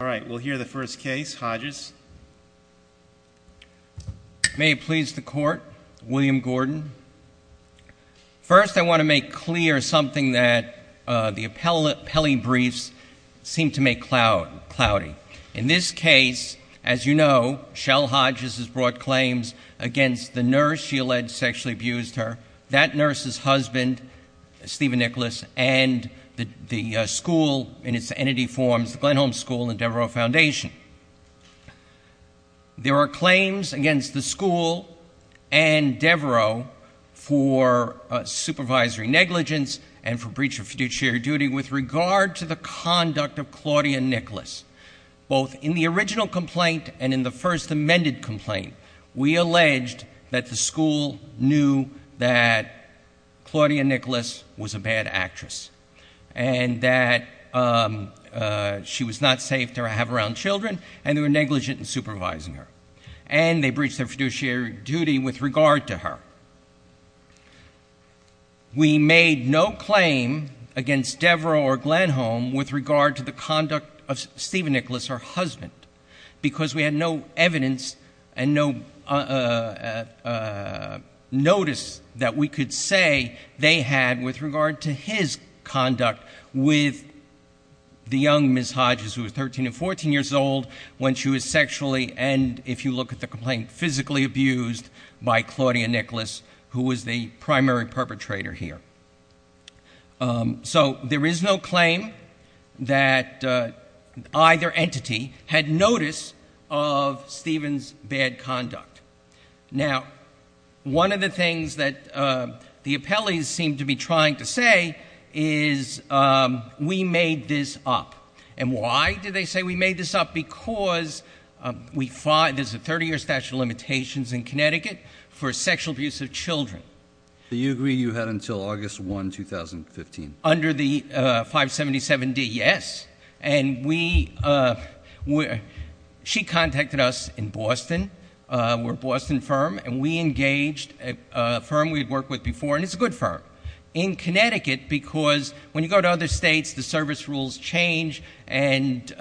All right, we'll hear the first case, Hodges. May it please the Court, William Gordon. First, I want to make clear something that the appellee briefs seem to make cloudy. In this case, as you know, Shell Hodges has brought claims against the nurse she alleged sexually abused her, that nurse's husband, Stephen Nicholas, and the school in its entity forms, the Glenholme School and Devereux Foundation. There are claims against the school and Devereux for supervisory negligence and for breach of fiduciary duty with regard to the conduct of Claudia Nicholas. Both in the original complaint and in the first amended complaint, we alleged that the school knew that Claudia Nicholas was a bad actress and that she was not safe to have around children and they were negligent in supervising her. And they breached their fiduciary duty with regard to her. We made no claim against Devereux or Glenholme with regard to the conduct of Stephen Nicholas, her husband, because we had no evidence and no notice that we could say they had with regard to his conduct with the young Ms. Hodges who was 13 and 14 years old when she was sexually and, if you look at the complaint, physically abused by Claudia Nicholas who was the primary perpetrator here. So there is no claim that either entity had notice of Stephen's bad conduct. Now, one of the things that the appellees seem to be trying to say is we made this up. And why did they say we made this up? Because there's a 30-year statute of limitations in Connecticut for sexual abuse of children. Do you agree you had until August 1, 2015? Under the 577D, yes. And she contacted us in Boston. We're a Boston firm, and we engaged a firm we had worked with before, and it's a good firm, in Connecticut, because when you go to other states, the service rules change, and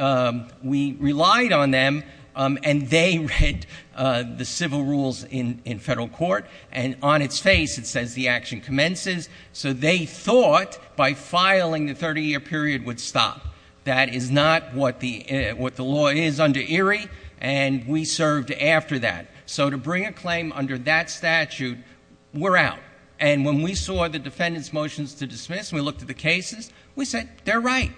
we relied on them, and they read the civil rules in federal court, and on its face it says the action commences. So they thought by filing the 30-year period would stop. That is not what the law is under Erie, and we served after that. So to bring a claim under that statute, we're out. And when we saw the defendant's motions to dismiss and we looked at the cases, we said they're right.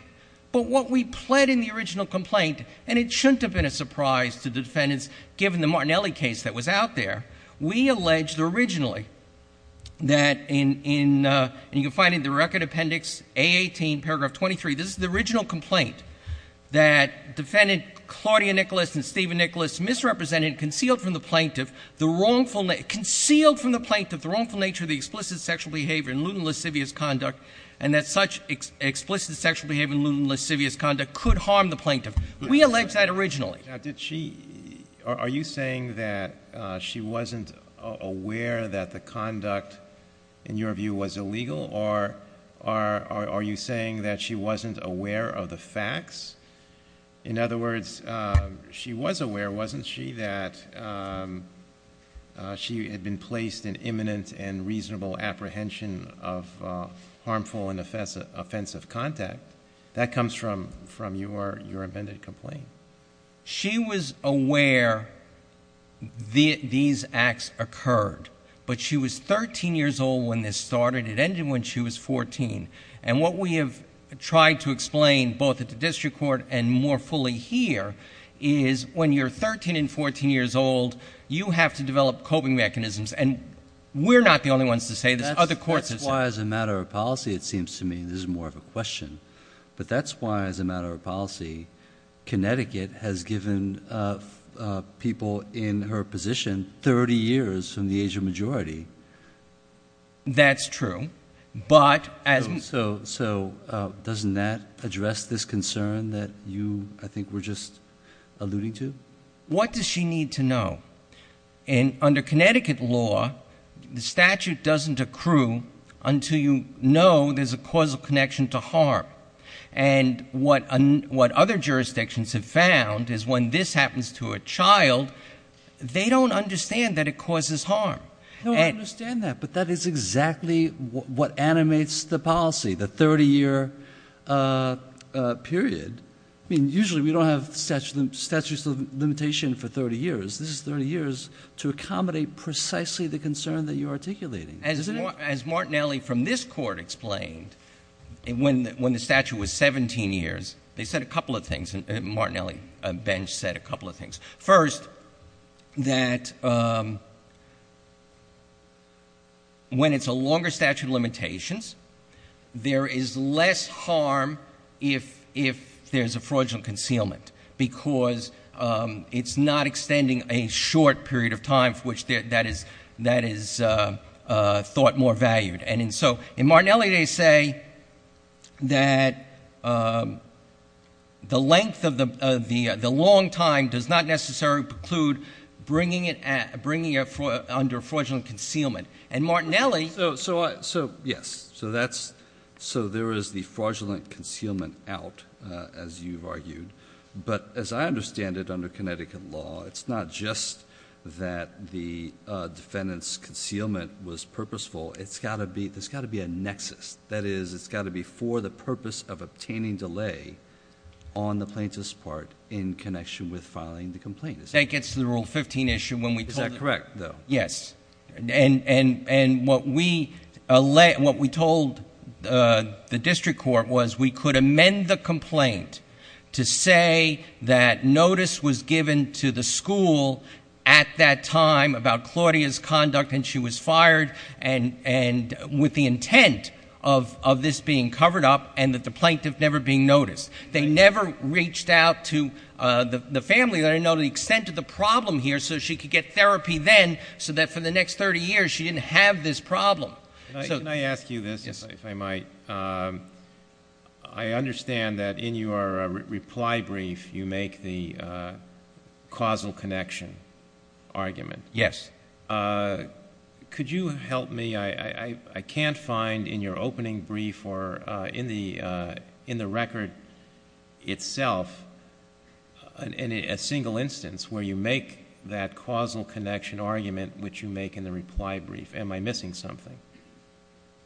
But what we pled in the original complaint, and it shouldn't have been a surprise to the defendants, given the Martinelli case that was out there, we alleged originally that in, and you can find it in the record appendix, A18, paragraph 23, this is the original complaint, that defendant Claudia Nicholas and Stephen Nicholas misrepresented and concealed from the plaintiff the wrongful nature of the explicit sexual behavior in lewd and lascivious conduct and that such explicit sexual behavior in lewd and lascivious conduct could harm the plaintiff. We alleged that originally. Are you saying that she wasn't aware that the conduct, in your view, was illegal, or are you saying that she wasn't aware of the facts? In other words, she was aware, wasn't she, that she had been placed in imminent and reasonable apprehension of harmful and offensive contact? That comes from your amended complaint. She was aware these acts occurred, but she was 13 years old when this started. It ended when she was 14. And what we have tried to explain, both at the district court and more fully here, is when you're 13 and 14 years old, you have to develop coping mechanisms, and we're not the only ones to say this. Other courts have said it. That's why, as a matter of policy, it seems to me this is more of a question. But that's why, as a matter of policy, Connecticut has given people in her position 30 years from the age of majority. That's true. So doesn't that address this concern that you, I think, were just alluding to? What does she need to know? Under Connecticut law, the statute doesn't accrue until you know there's a causal connection to harm. And what other jurisdictions have found is when this happens to a child, they don't understand that it causes harm. They don't understand that, but that is exactly what animates the policy, the 30-year period. I mean, usually we don't have statutes of limitation for 30 years. This is 30 years to accommodate precisely the concern that you're articulating, isn't it? As Martinelli from this court explained, when the statute was 17 years, they said a couple of things. Martinelli, Ben said a couple of things. First, that when it's a longer statute of limitations, there is less harm if there's a fraudulent concealment because it's not extending a short period of time for which that is thought more valued. And so in Martinelli, they say that the length of the long time does not necessarily preclude bringing it under fraudulent concealment. And Martinelli— So, yes. So there is the fraudulent concealment out, as you've argued. But as I understand it under Connecticut law, it's not just that the defendant's concealment was purposeful. It's got to be—there's got to be a nexus. That is, it's got to be for the purpose of obtaining delay on the plaintiff's part in connection with filing the complaint. That gets to the Rule 15 issue when we told— Is that correct, though? Yes. And what we told the district court was we could amend the complaint to say that notice was given to the school at that time about Claudia's conduct and she was fired and with the intent of this being covered up and that the plaintiff never being noticed. They never reached out to the family. They didn't know the extent of the problem here so she could get therapy then so that for the next 30 years she didn't have this problem. Can I ask you this, if I might? Yes. I understand that in your reply brief you make the causal connection argument. Yes. Could you help me? I can't find in your opening brief or in the record itself a single instance where you make that causal connection argument which you make in the reply brief. Am I missing something?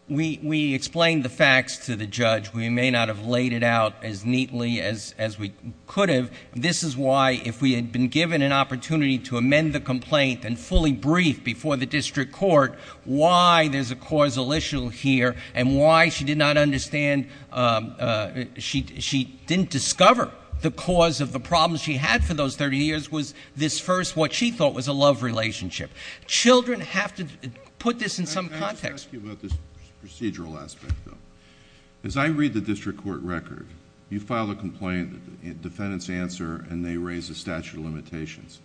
We explained the facts to the judge. We may not have laid it out as neatly as we could have. This is why if we had been given an opportunity to amend the complaint and fully brief before the district court why there's a causal issue here and why she did not understand she didn't discover the cause of the problems she had for those 30 years was this first what she thought was a love relationship. Children have to put this in some context. Let me ask you about this procedural aspect, though. As I read the district court record, you file a complaint, defendants answer, and they raise a statute of limitations.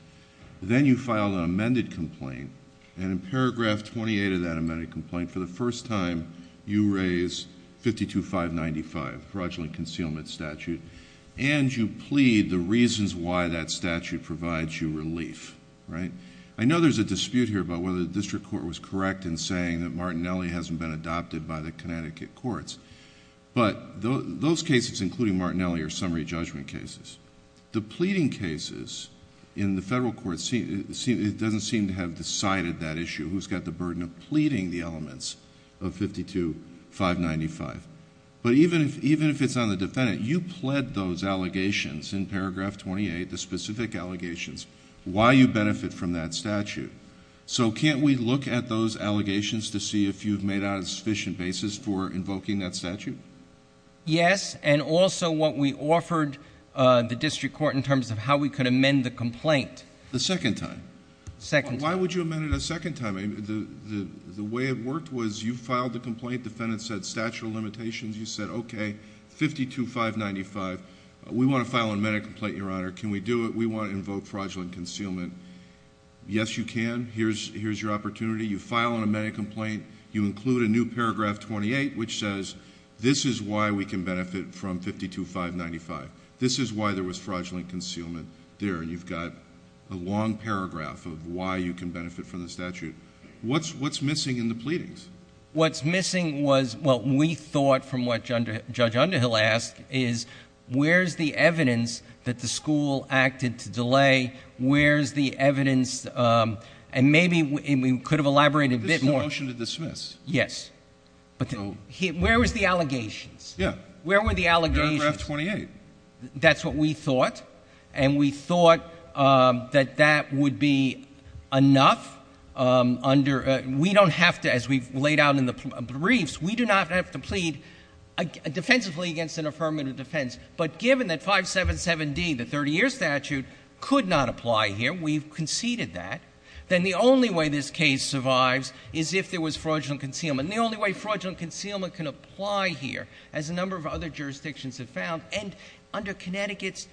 Then you file an amended complaint, and in paragraph 28 of that amended complaint for the first time you raise 52595, fraudulent concealment statute, and you plead the reasons why that statute provides you relief. I know there's a dispute here about whether the district court was correct in saying that Martinelli hasn't been adopted by the Connecticut courts, but those cases including Martinelli are summary judgment cases. The pleading cases in the federal courts, it doesn't seem to have decided that issue who's got the burden of pleading the elements of 52595. Even if it's on the defendant, you pled those allegations in paragraph 28, the specific allegations, why you benefit from that statute. So can't we look at those allegations to see if you've made out a sufficient basis for invoking that statute? Yes, and also what we offered the district court in terms of how we could amend the complaint. The second time? Second time. Why would you amend it a second time? The way it worked was you filed the complaint. Defendants said statute of limitations. You said, okay, 52595. We want to file an amended complaint, Your Honor. Can we do it? We want to invoke fraudulent concealment. Yes, you can. Here's your opportunity. You file an amended complaint. You include a new paragraph 28 which says this is why we can benefit from 52595. This is why there was fraudulent concealment there, and you've got a long paragraph of why you can benefit from the statute. What's missing in the pleadings? What's missing was what we thought from what Judge Underhill asked is where's the evidence that the school acted to delay? Where's the evidence? And maybe we could have elaborated a bit more. This is a motion to dismiss. Yes. Where was the allegations? Yeah. Where were the allegations? Paragraph 28. That's what we thought, and we thought that that would be enough. We don't have to, as we've laid out in the briefs, we do not have to plead defensively against an affirmative defense. But given that 577D, the 30-year statute, could not apply here, we've conceded that, then the only way this case survives is if there was fraudulent concealment. And the only way fraudulent concealment can apply here, as a number of other jurisdictions have found, and under Connecticut's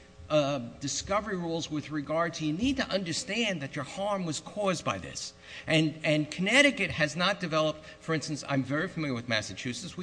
discovery rules with regard to you need to understand that your harm was caused by this. And Connecticut has not developed, for instance, I'm very familiar with Massachusetts.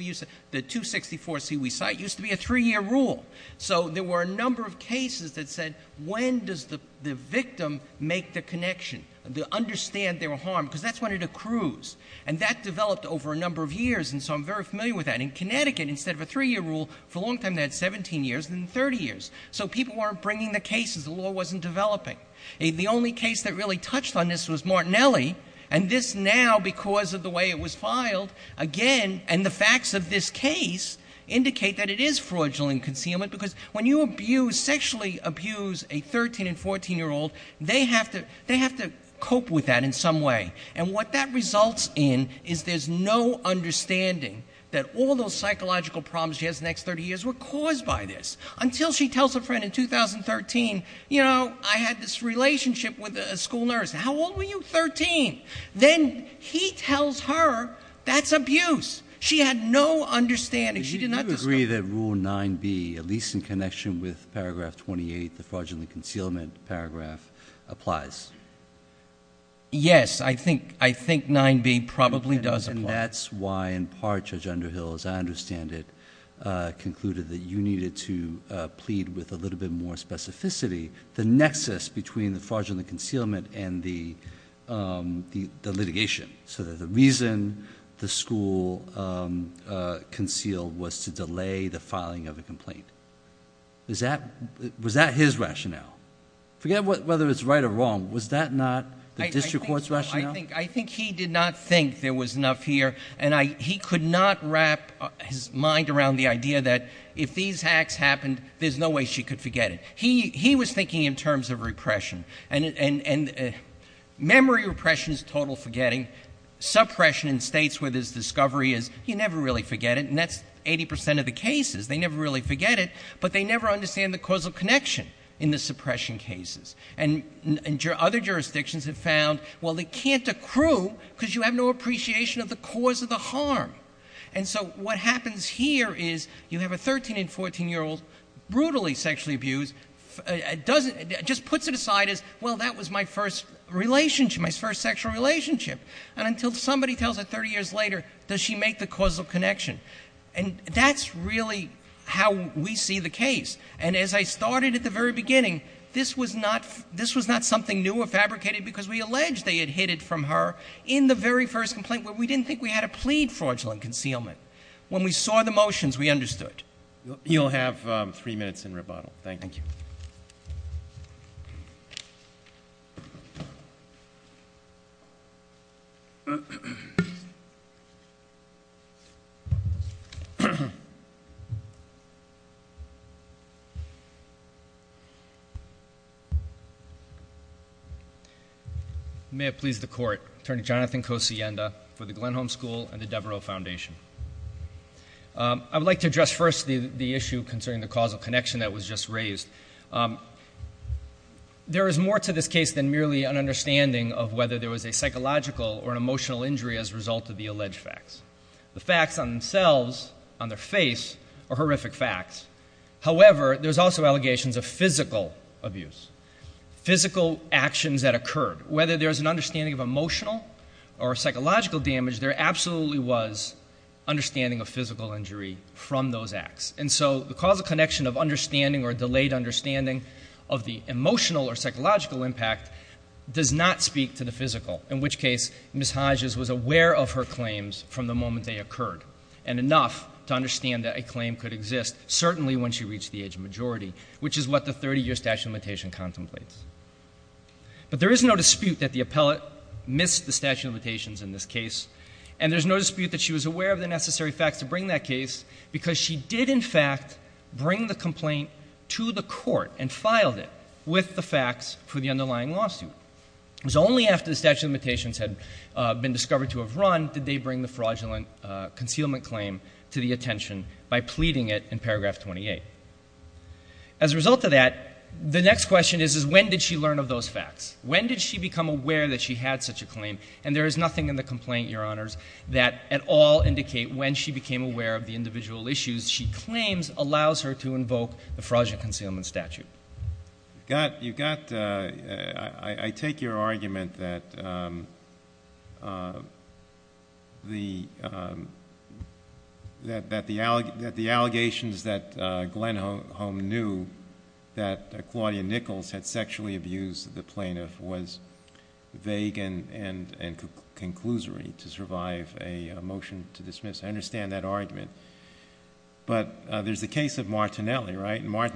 The 264C we cite used to be a 3-year rule. So there were a number of cases that said, when does the victim make the connection to understand their harm, because that's when it accrues. And that developed over a number of years, and so I'm very familiar with that. In Connecticut, instead of a 3-year rule, for a long time they had 17 years and 30 years. So people weren't bringing the cases. The law wasn't developing. The only case that really touched on this was Martinelli, and this now, because of the way it was filed, again, and the facts of this case indicate that it is fraudulent concealment, because when you sexually abuse a 13- and 14-year-old, they have to cope with that in some way. And what that results in is there's no understanding that all those psychological problems she has the next 30 years were caused by this. Until she tells a friend in 2013, you know, I had this relationship with a school nurse. How old were you? Thirteen. Then he tells her that's abuse. She had no understanding. She did not discuss it. Do you agree that Rule 9b, at least in connection with Paragraph 28, the fraudulent concealment paragraph, applies? Yes. I think 9b probably does apply. And that's why, in part, Judge Underhill, as I understand it, concluded that you needed to plead with a little bit more specificity. The nexus between the fraudulent concealment and the litigation, so that the reason the school concealed was to delay the filing of a complaint. Was that his rationale? Forget whether it's right or wrong. Was that not the district court's rationale? I think he did not think there was enough here, and he could not wrap his mind around the idea that if these hacks happened, there's no way she could forget it. He was thinking in terms of repression. And memory repression is total forgetting. Suppression in states where there's discovery is you never really forget it, and that's 80% of the cases. They never really forget it, but they never understand the causal connection in the suppression cases. And other jurisdictions have found, well, they can't accrue because you have no appreciation of the cause of the harm. And so what happens here is you have a 13- and 14-year-old brutally sexually abused, just puts it aside as, well, that was my first relationship, my first sexual relationship. And until somebody tells her 30 years later, does she make the causal connection? And that's really how we see the case. And as I started at the very beginning, this was not something new or fabricated because we allege they had hid it from her in the very first complaint where we didn't think we had to plead fraudulent concealment. When we saw the motions, we understood. You'll have three minutes in rebuttal. Thank you. Thank you. May it please the Court, Attorney Jonathan Cosienda for the Glenholm School and the Devereux Foundation. I would like to address first the issue concerning the causal connection that was just raised. There is more to this case than merely an understanding of whether there was a psychological or an emotional injury as a result of the alleged facts. The facts on themselves, on their face, are horrific facts. However, there's also allegations of physical abuse, physical actions that occurred. Whether there's an understanding of emotional or psychological damage, there absolutely was understanding of physical injury from those acts. And so the causal connection of understanding or delayed understanding of the emotional or psychological impact does not speak to the physical, in which case Ms. Hodges was aware of her claims from the moment they occurred and enough to understand that a claim could exist, certainly when she reached the age of majority, which is what the 30-year statute of limitations contemplates. But there is no dispute that the appellate missed the statute of limitations in this case and there's no dispute that she was aware of the necessary facts to bring that case because she did in fact bring the complaint to the court and filed it with the facts for the underlying lawsuit. It was only after the statute of limitations had been discovered to have run did they bring the fraudulent concealment claim to the attention by pleading it in paragraph 28. As a result of that, the next question is when did she learn of those facts? When did she become aware that she had such a claim? And there is nothing in the complaint, Your Honors, that at all indicate when she became aware of the individual issues she claims allows her to invoke the fraudulent concealment statute. I take your argument that the allegations that Glen Holm knew that Claudia Nichols had sexually abused the plaintiff was vague and conclusory to survive a motion to dismiss. I understand that argument. But there's the case of Martinelli, right? And I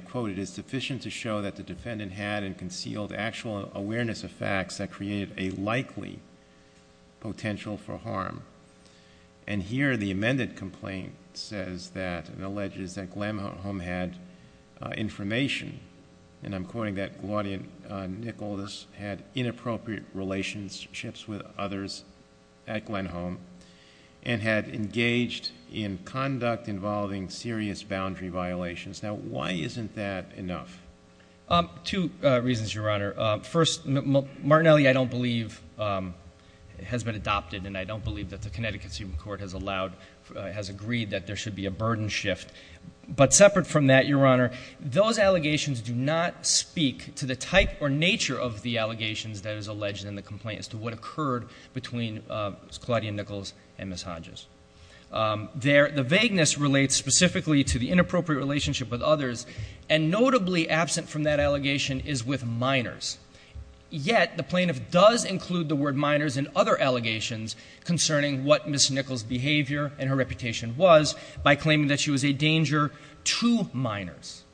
quote, it is sufficient to show that the defendant had and concealed actual awareness of facts that created a likely potential for harm. And here the amended complaint says that and alleges that Glen Holm had information and I'm quoting that Claudia Nichols had inappropriate relationships with others at Glen Holm and had engaged in conduct involving serious boundary violations. Now, why isn't that enough? Two reasons, Your Honor. First, Martinelli, I don't believe, has been adopted and I don't believe that the Connecticut Supreme Court has allowed, has agreed that there should be a burden shift. But separate from that, Your Honor, those allegations do not speak to the type or nature of the allegations that is alleged in the complaint as to what occurred between Claudia Nichols and Ms. Hodges. The vagueness relates specifically to the inappropriate relationship with others and notably absent from that allegation is with minors. Yet, the plaintiff does include the word minors in other allegations concerning what Ms. Nichols' behavior and her reputation was by claiming that she was a danger to minors.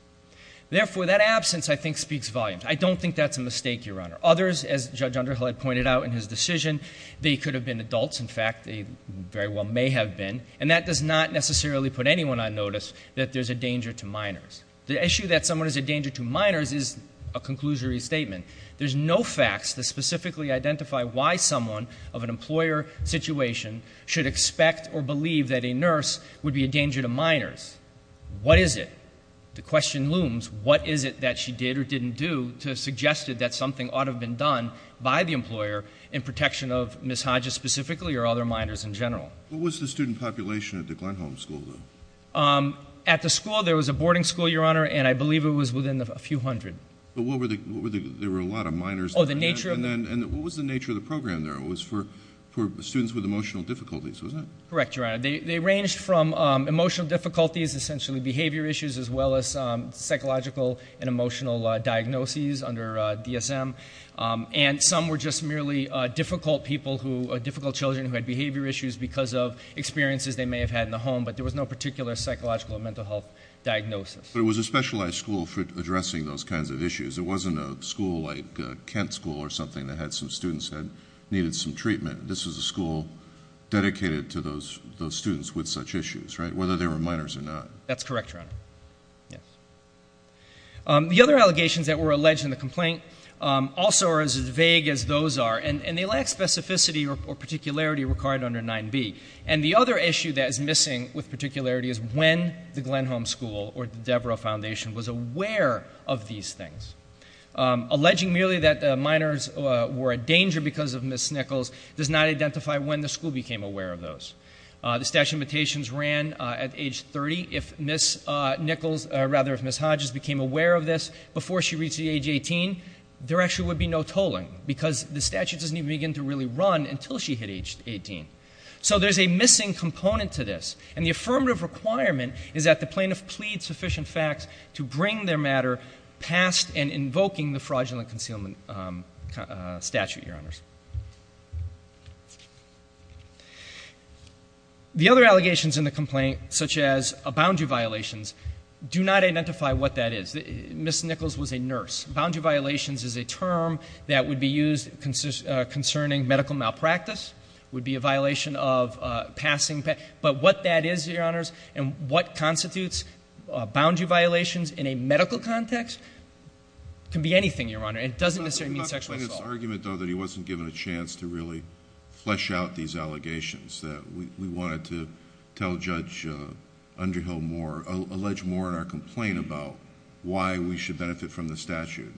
Therefore, that absence, I think, speaks volumes. I don't think that's a mistake, Your Honor. Others, as Judge Underhill had pointed out in his decision, they could have been adults, in fact. They very well may have been. And that does not necessarily put anyone on notice that there's a danger to minors. The issue that someone is a danger to minors is a conclusory statement. There's no facts that specifically identify why someone of an employer situation should expect or believe that a nurse would be a danger to minors. What is it? The question looms, what is it that she did or didn't do to suggest that something ought to have been done by the employer in protection of Ms. Hodges specifically or other minors in general? What was the student population at the Glenholm School, though? At the school, there was a boarding school, Your Honor, and I believe it was within a few hundred. But there were a lot of minors. And what was the nature of the program there? It was for students with emotional difficulties, wasn't it? Correct, Your Honor. They ranged from emotional difficulties, essentially behavior issues, as well as psychological and emotional diagnoses under DSM. And some were just merely difficult children who had behavior issues because of experiences they may have had in the home, but there was no particular psychological or mental health diagnosis. But it was a specialized school for addressing those kinds of issues. It wasn't a school like Kent School or something that had some students that needed some treatment. This was a school dedicated to those students with such issues, right, whether they were minors or not. That's correct, Your Honor. The other allegations that were alleged in the complaint also are as vague as those are, and they lack specificity or particularity required under 9b. And the other issue that is missing with particularity is when the Glenholm School or the Devereux Foundation was aware of these things. Alleging merely that minors were a danger because of missed nickels does not identify when the school became aware of those. The statute of limitations ran at age 30. If Miss Hodges became aware of this before she reached the age of 18, there actually would be no tolling because the statute doesn't even begin to really run until she hit age 18. So there's a missing component to this, and the affirmative requirement is that the plaintiff plead sufficient facts to bring their matter past and invoking the fraudulent concealment statute, Your Honors. The other allegations in the complaint, such as boundary violations, do not identify what that is. Miss Nichols was a nurse. Boundary violations is a term that would be used concerning medical malpractice, would be a violation of passing, but what that is, Your Honors, and what constitutes boundary violations in a medical context can be anything, Your Honor. It doesn't necessarily mean sexual assault. There was this argument, though, that he wasn't given a chance to really flesh out these allegations, that we wanted to tell Judge Underhill more, allege more in our complaint about why we should benefit from the statute.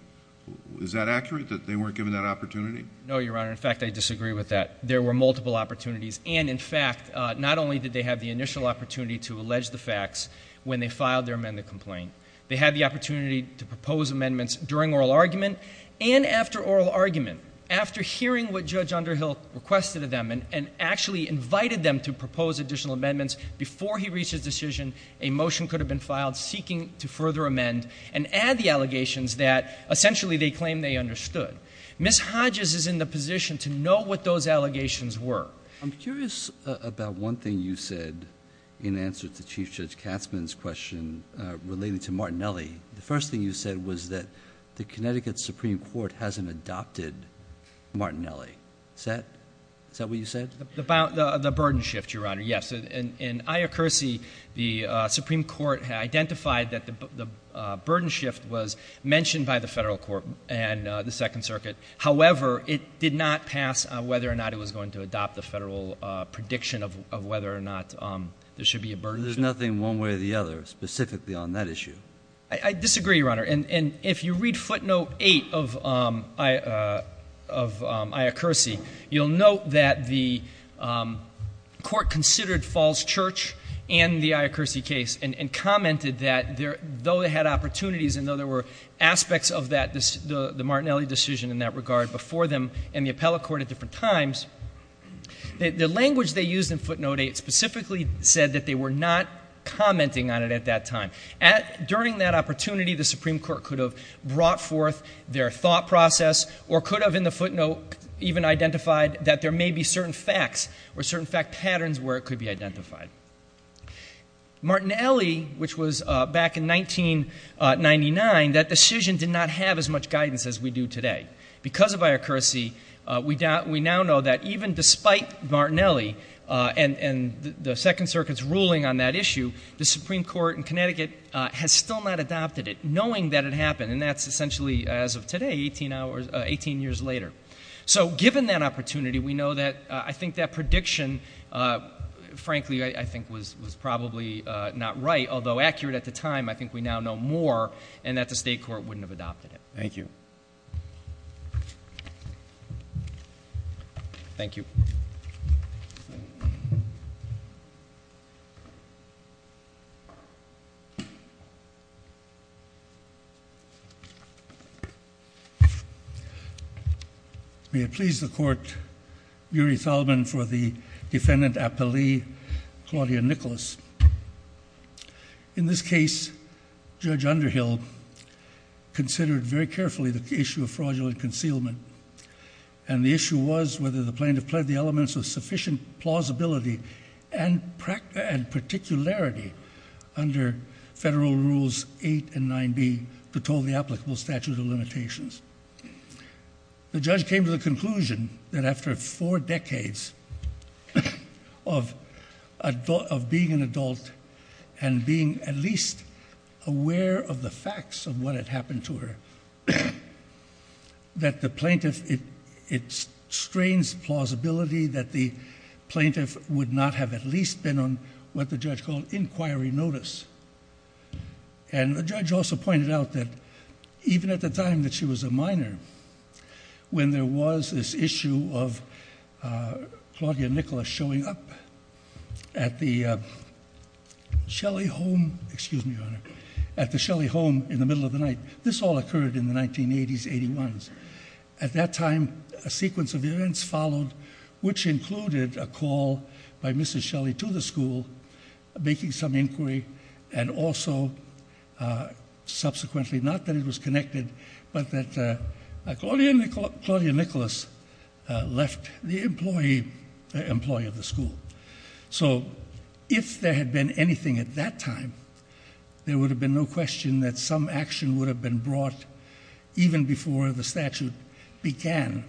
Is that accurate, that they weren't given that opportunity? No, Your Honor. In fact, I disagree with that. There were multiple opportunities, and, in fact, not only did they have the initial opportunity to allege the facts when they filed their amendment complaint, they had the opportunity to propose amendments during oral argument, and after oral argument, after hearing what Judge Underhill requested of them and actually invited them to propose additional amendments before he reached his decision, a motion could have been filed seeking to further amend and add the allegations that, essentially, they claim they understood. Miss Hodges is in the position to know what those allegations were. I'm curious about one thing you said in answer to Chief Judge Katzmann's question relating to Martinelli. The first thing you said was that the Connecticut Supreme Court hasn't adopted Martinelli. Is that what you said? The burden shift, Your Honor, yes. In Iocurse, the Supreme Court identified that the burden shift was mentioned by the federal court and the Second Circuit. However, it did not pass whether or not it was going to adopt the federal prediction of whether or not there should be a burden shift. There's nothing one way or the other specifically on that issue. I disagree, Your Honor. And if you read footnote 8 of Iocurse, you'll note that the court considered Falls Church and the Iocurse case and commented that though they had opportunities and though there were aspects of the Martinelli decision in that regard before them in the appellate court at different times, the language they used in footnote 8 specifically said that they were not commenting on it at that time. During that opportunity, the Supreme Court could have brought forth their thought process or could have in the footnote even identified that there may be certain facts or certain fact patterns where it could be identified. Martinelli, which was back in 1999, that decision did not have as much guidance as we do today. Because of Iocurse, we now know that even despite Martinelli and the Second Circuit's ruling on that issue, the Supreme Court in Connecticut has still not adopted it, knowing that it happened, and that's essentially as of today, 18 years later. So given that opportunity, we know that I think that prediction, frankly, I think was probably not right. Although accurate at the time, I think we now know more and that the state court wouldn't have adopted it. Thank you. Thank you. May it please the court, Muri Thalman for the defendant appellee, Claudia Nicholas. In this case, Judge Underhill considered very carefully the issue of fraudulent concealment, and the issue was whether the plaintiff pled the elements of sufficient plausibility and particularity under Federal Rules 8 and 9b to toll the applicable statute of limitations. The judge came to the conclusion that after four decades of being an adult and being at least aware of the facts of what had happened to her, that the plaintiff, it strains plausibility that the plaintiff would not have at least been on what the judge called inquiry notice. And the judge also pointed out that even at the time that she was a minor, when there was this issue of Claudia Nicholas showing up at the Shelley home in the middle of the night, this all occurred in the 1980s, 81s. At that time, a sequence of events followed, which included a call by Mrs. Shelley to the school, making some inquiry, and also subsequently, not that it was connected, but that Claudia Nicholas left the employee of the school. So if there had been anything at that time, there would have been no question that some action would have been brought even before the statute began,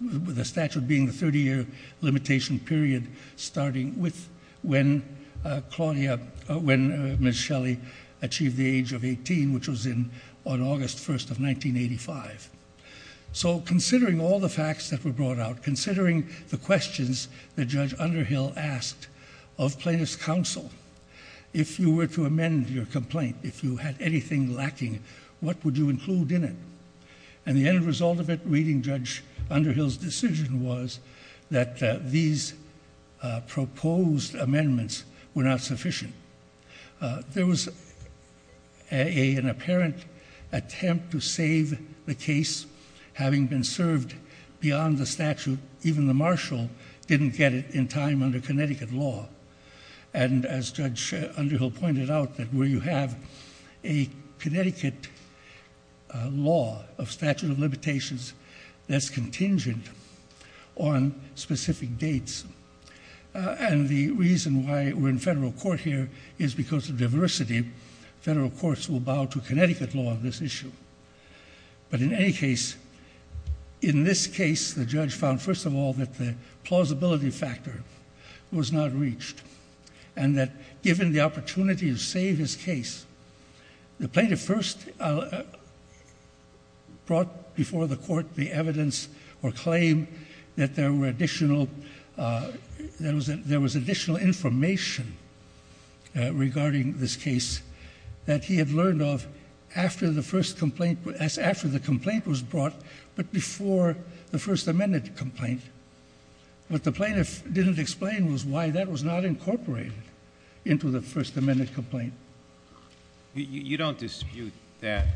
the statute being the 30-year limitation period starting with when Claudia, when Mrs. Shelley achieved the age of 18, which was on August 1st of 1985. So considering all the facts that were brought out, considering the questions that Judge Underhill asked of plaintiff's counsel, if you were to amend your complaint, if you had anything lacking, what would you include in it? And the end result of it, reading Judge Underhill's decision, was that these proposed amendments were not sufficient. There was an apparent attempt to save the case having been served beyond the statute. Even the marshal didn't get it in time under Connecticut law. And as Judge Underhill pointed out, where you have a Connecticut law of statute of limitations that's contingent on specific dates, and the reason why we're in federal court here is because of diversity. Federal courts will bow to Connecticut law on this issue. But in any case, in this case, the judge found, first of all, that the plausibility factor was not reached, and that given the opportunity to save his case, the plaintiff first brought before the court the evidence or claim that there was additional information regarding this case that he had learned of after the complaint was brought, but before the First Amendment complaint. What the plaintiff didn't explain was why that was not incorporated into the First Amendment complaint. You don't dispute that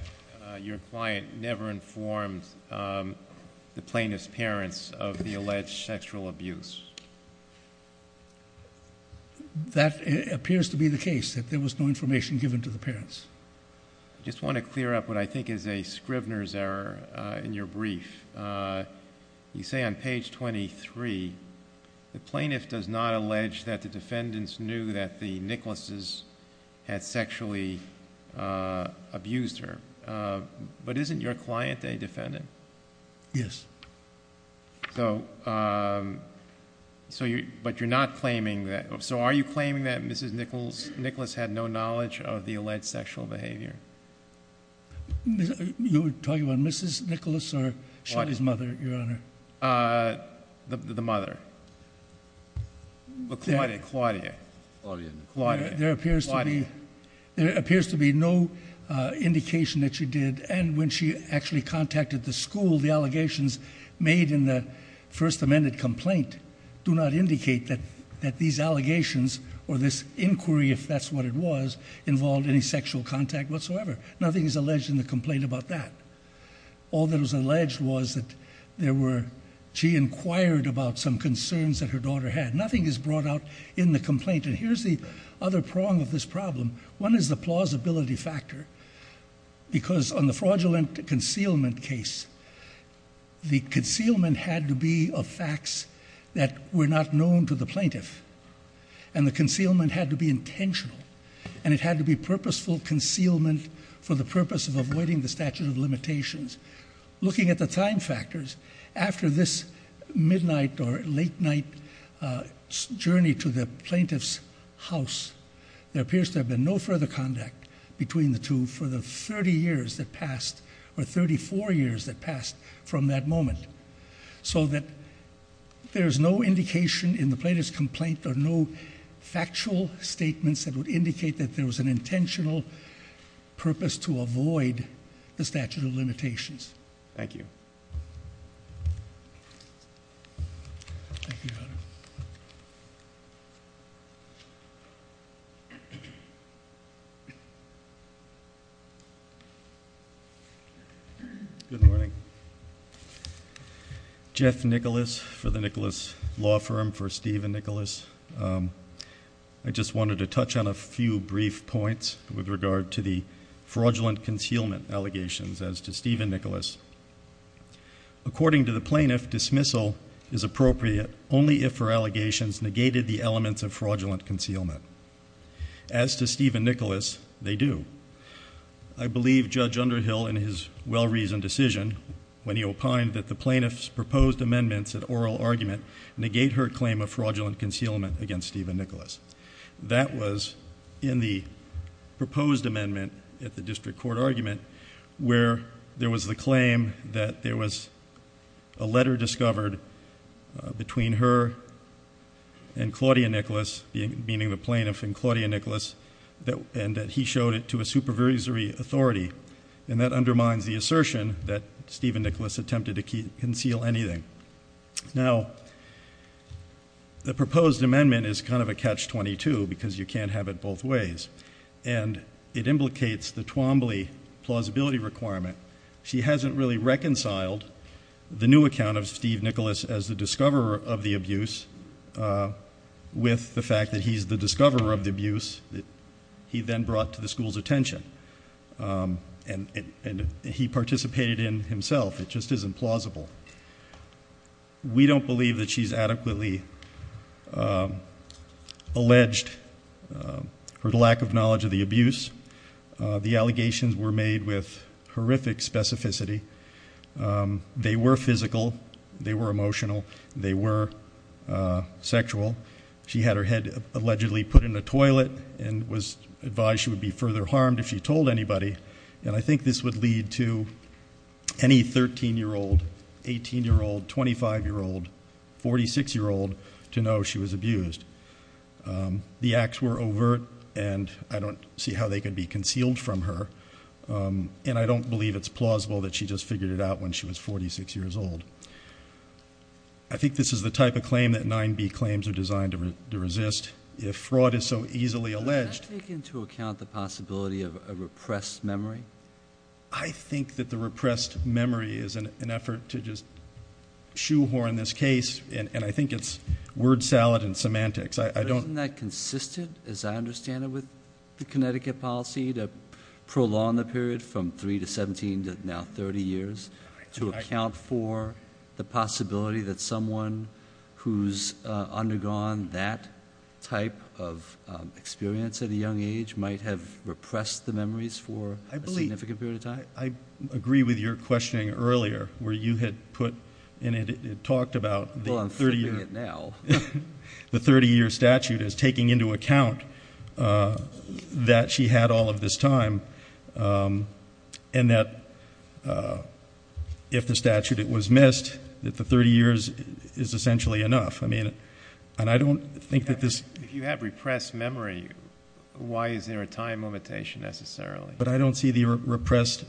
your client never informed the plaintiff's parents of the alleged sexual abuse? That appears to be the case, that there was no information given to the parents. I just want to clear up what I think is a Scrivner's error in your brief. You say on page 23, the plaintiff does not allege that the defendants knew that the Nicklases had sexually abused her. But isn't your client a defendant? Yes. So are you claiming that Mrs. Nicklase had no knowledge of the alleged sexual behavior? Are you talking about Mrs. Nicklase or Shelly's mother, Your Honor? The mother. Claudia. There appears to be no indication that she did, and when she actually contacted the school, the allegations made in the First Amendment complaint do not indicate that these allegations or this inquiry, if that's what it was, involved any sexual contact whatsoever. Nothing is alleged in the complaint about that. All that was alleged was that she inquired about some concerns that her daughter had. Nothing is brought out in the complaint. And here's the other prong of this problem. One is the plausibility factor, because on the fraudulent concealment case, the concealment had to be of facts that were not known to the plaintiff, and the concealment had to be intentional, and it had to be purposeful concealment for the purpose of avoiding the statute of limitations. Looking at the time factors, after this midnight or late night journey to the plaintiff's house, there appears to have been no further contact between the two for the 30 years that passed, or 34 years that passed from that moment, so that there's no indication in the plaintiff's complaint or no factual statements that would indicate that there was an intentional purpose to avoid the statute of limitations. Thank you. Thank you. Good morning. Jeff Nicholas for the Nicholas Law Firm, for Steve and Nicholas. I just wanted to touch on a few brief points with regard to the fraudulent concealment allegations as to Steve and Nicholas. According to the plaintiff, dismissal is appropriate only if her allegations negated the elements of fraudulent concealment. As to Steve and Nicholas, they do. I believe Judge Underhill, in his well-reasoned decision, when he opined that the plaintiff's proposed amendments at oral argument negate her claim of fraudulent concealment against Steve and Nicholas. That was in the proposed amendment at the district court argument, where there was the claim that there was a letter discovered between her and Claudia Nicholas, meaning the plaintiff and Claudia Nicholas, and that he showed it to a supervisory authority, and that undermines the assertion that Steve and Nicholas attempted to conceal anything. Now, the proposed amendment is kind of a catch-22 because you can't have it both ways, and it implicates the Twombly plausibility requirement. She hasn't really reconciled the new account of Steve Nicholas as the discoverer of the abuse with the fact that he's the discoverer of the abuse that he then brought to the school's attention, and he participated in it himself. It just isn't plausible. We don't believe that she's adequately alleged her lack of knowledge of the abuse. The allegations were made with horrific specificity. They were physical. They were emotional. They were sexual. She had her head allegedly put in the toilet and was advised she would be further harmed if she told anybody, and I think this would lead to any 13-year-old, 18-year-old, 25-year-old, 46-year-old to know she was abused. The acts were overt, and I don't see how they could be concealed from her, and I don't believe it's plausible that she just figured it out when she was 46 years old. I think this is the type of claim that 9B claims are designed to resist. If fraud is so easily alleged— Does that take into account the possibility of a repressed memory? I think that the repressed memory is an effort to just shoehorn this case, and I think it's word salad and semantics. Isn't that consistent, as I understand it, with the Connecticut policy to prolong the period from 3 to 17 to now 30 years to account for the possibility that someone who's undergone that type of experience at a young age might have repressed the memories for a significant period of time? I agree with your questioning earlier where you had put in it, talked about the 30-year statute as taking into account that she had all of this time and that if the statute was missed, that the 30 years is essentially enough. I mean, and I don't think that this— If you have repressed memory, why is there a time limitation necessarily? But I don't see the repressed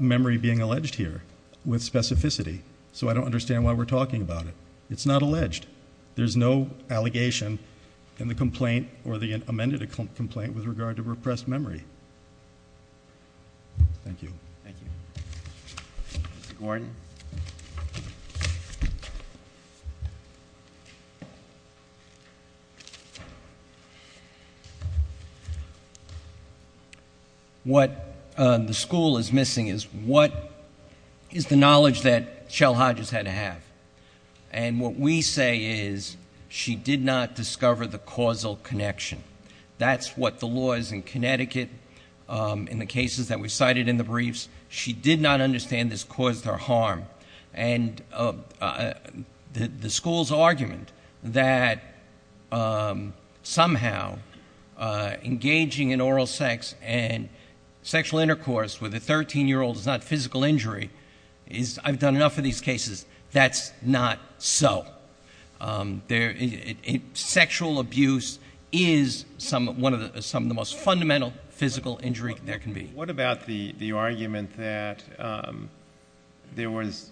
memory being alleged here with specificity, so I don't understand why we're talking about it. It's not alleged. There's no allegation in the complaint or the amended complaint with regard to repressed memory. Thank you. Thank you. Mr. Gordon. Thank you. What the school is missing is what is the knowledge that Chell Hodges had to have, and what we say is she did not discover the causal connection. That's what the law is in Connecticut in the cases that we cited in the briefs. She did not understand this caused her harm, and the school's argument that somehow engaging in oral sex and sexual intercourse with a 13-year-old is not physical injury is— I've done enough of these cases. That's not so. Sexual abuse is some of the most fundamental physical injury there can be. What about the argument that there was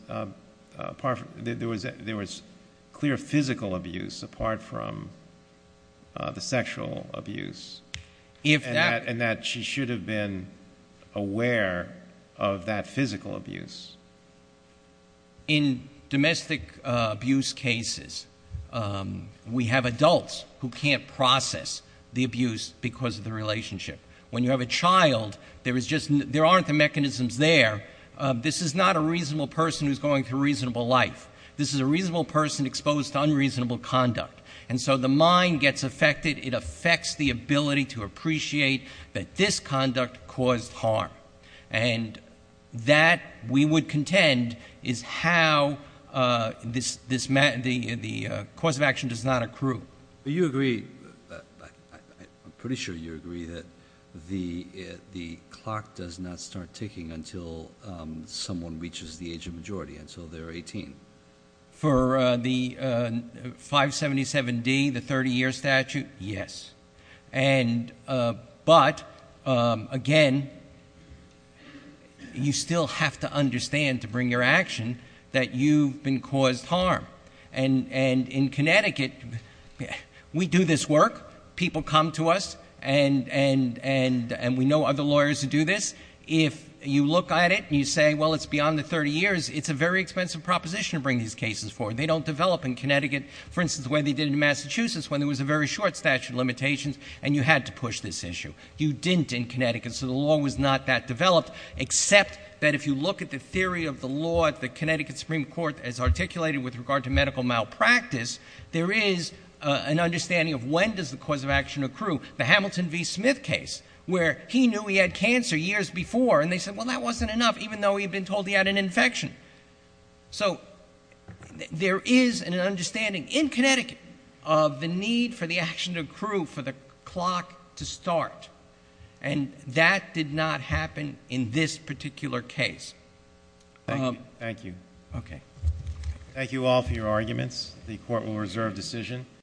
clear physical abuse apart from the sexual abuse and that she should have been aware of that physical abuse? In domestic abuse cases, we have adults who can't process the abuse because of the relationship. When you have a child, there aren't the mechanisms there. This is not a reasonable person who's going through reasonable life. This is a reasonable person exposed to unreasonable conduct. And so the mind gets affected. It affects the ability to appreciate that this conduct caused harm. And that, we would contend, is how the course of action does not accrue. You agree—I'm pretty sure you agree that the clock does not start ticking until someone reaches the age of majority, until they're 18. For the 577D, the 30-year statute, yes. But, again, you still have to understand to bring your action that you've been caused harm. And in Connecticut, we do this work. People come to us. And we know other lawyers who do this. If you look at it and you say, well, it's beyond the 30 years, it's a very expensive proposition to bring these cases forward. They don't develop in Connecticut, for instance, the way they did in Massachusetts when there was a very short statute of limitations, and you had to push this issue. You didn't in Connecticut. So the law was not that developed, except that if you look at the theory of the law that the Connecticut Supreme Court has articulated with regard to medical malpractice, there is an understanding of when does the course of action accrue. The Hamilton v. Smith case, where he knew he had cancer years before, and they said, well, that wasn't enough, even though he had been told he had an infection. So there is an understanding in Connecticut of the need for the action to accrue for the clock to start. And that did not happen in this particular case. Thank you. Okay. Thank you all for your arguments. The Court will reserve decision.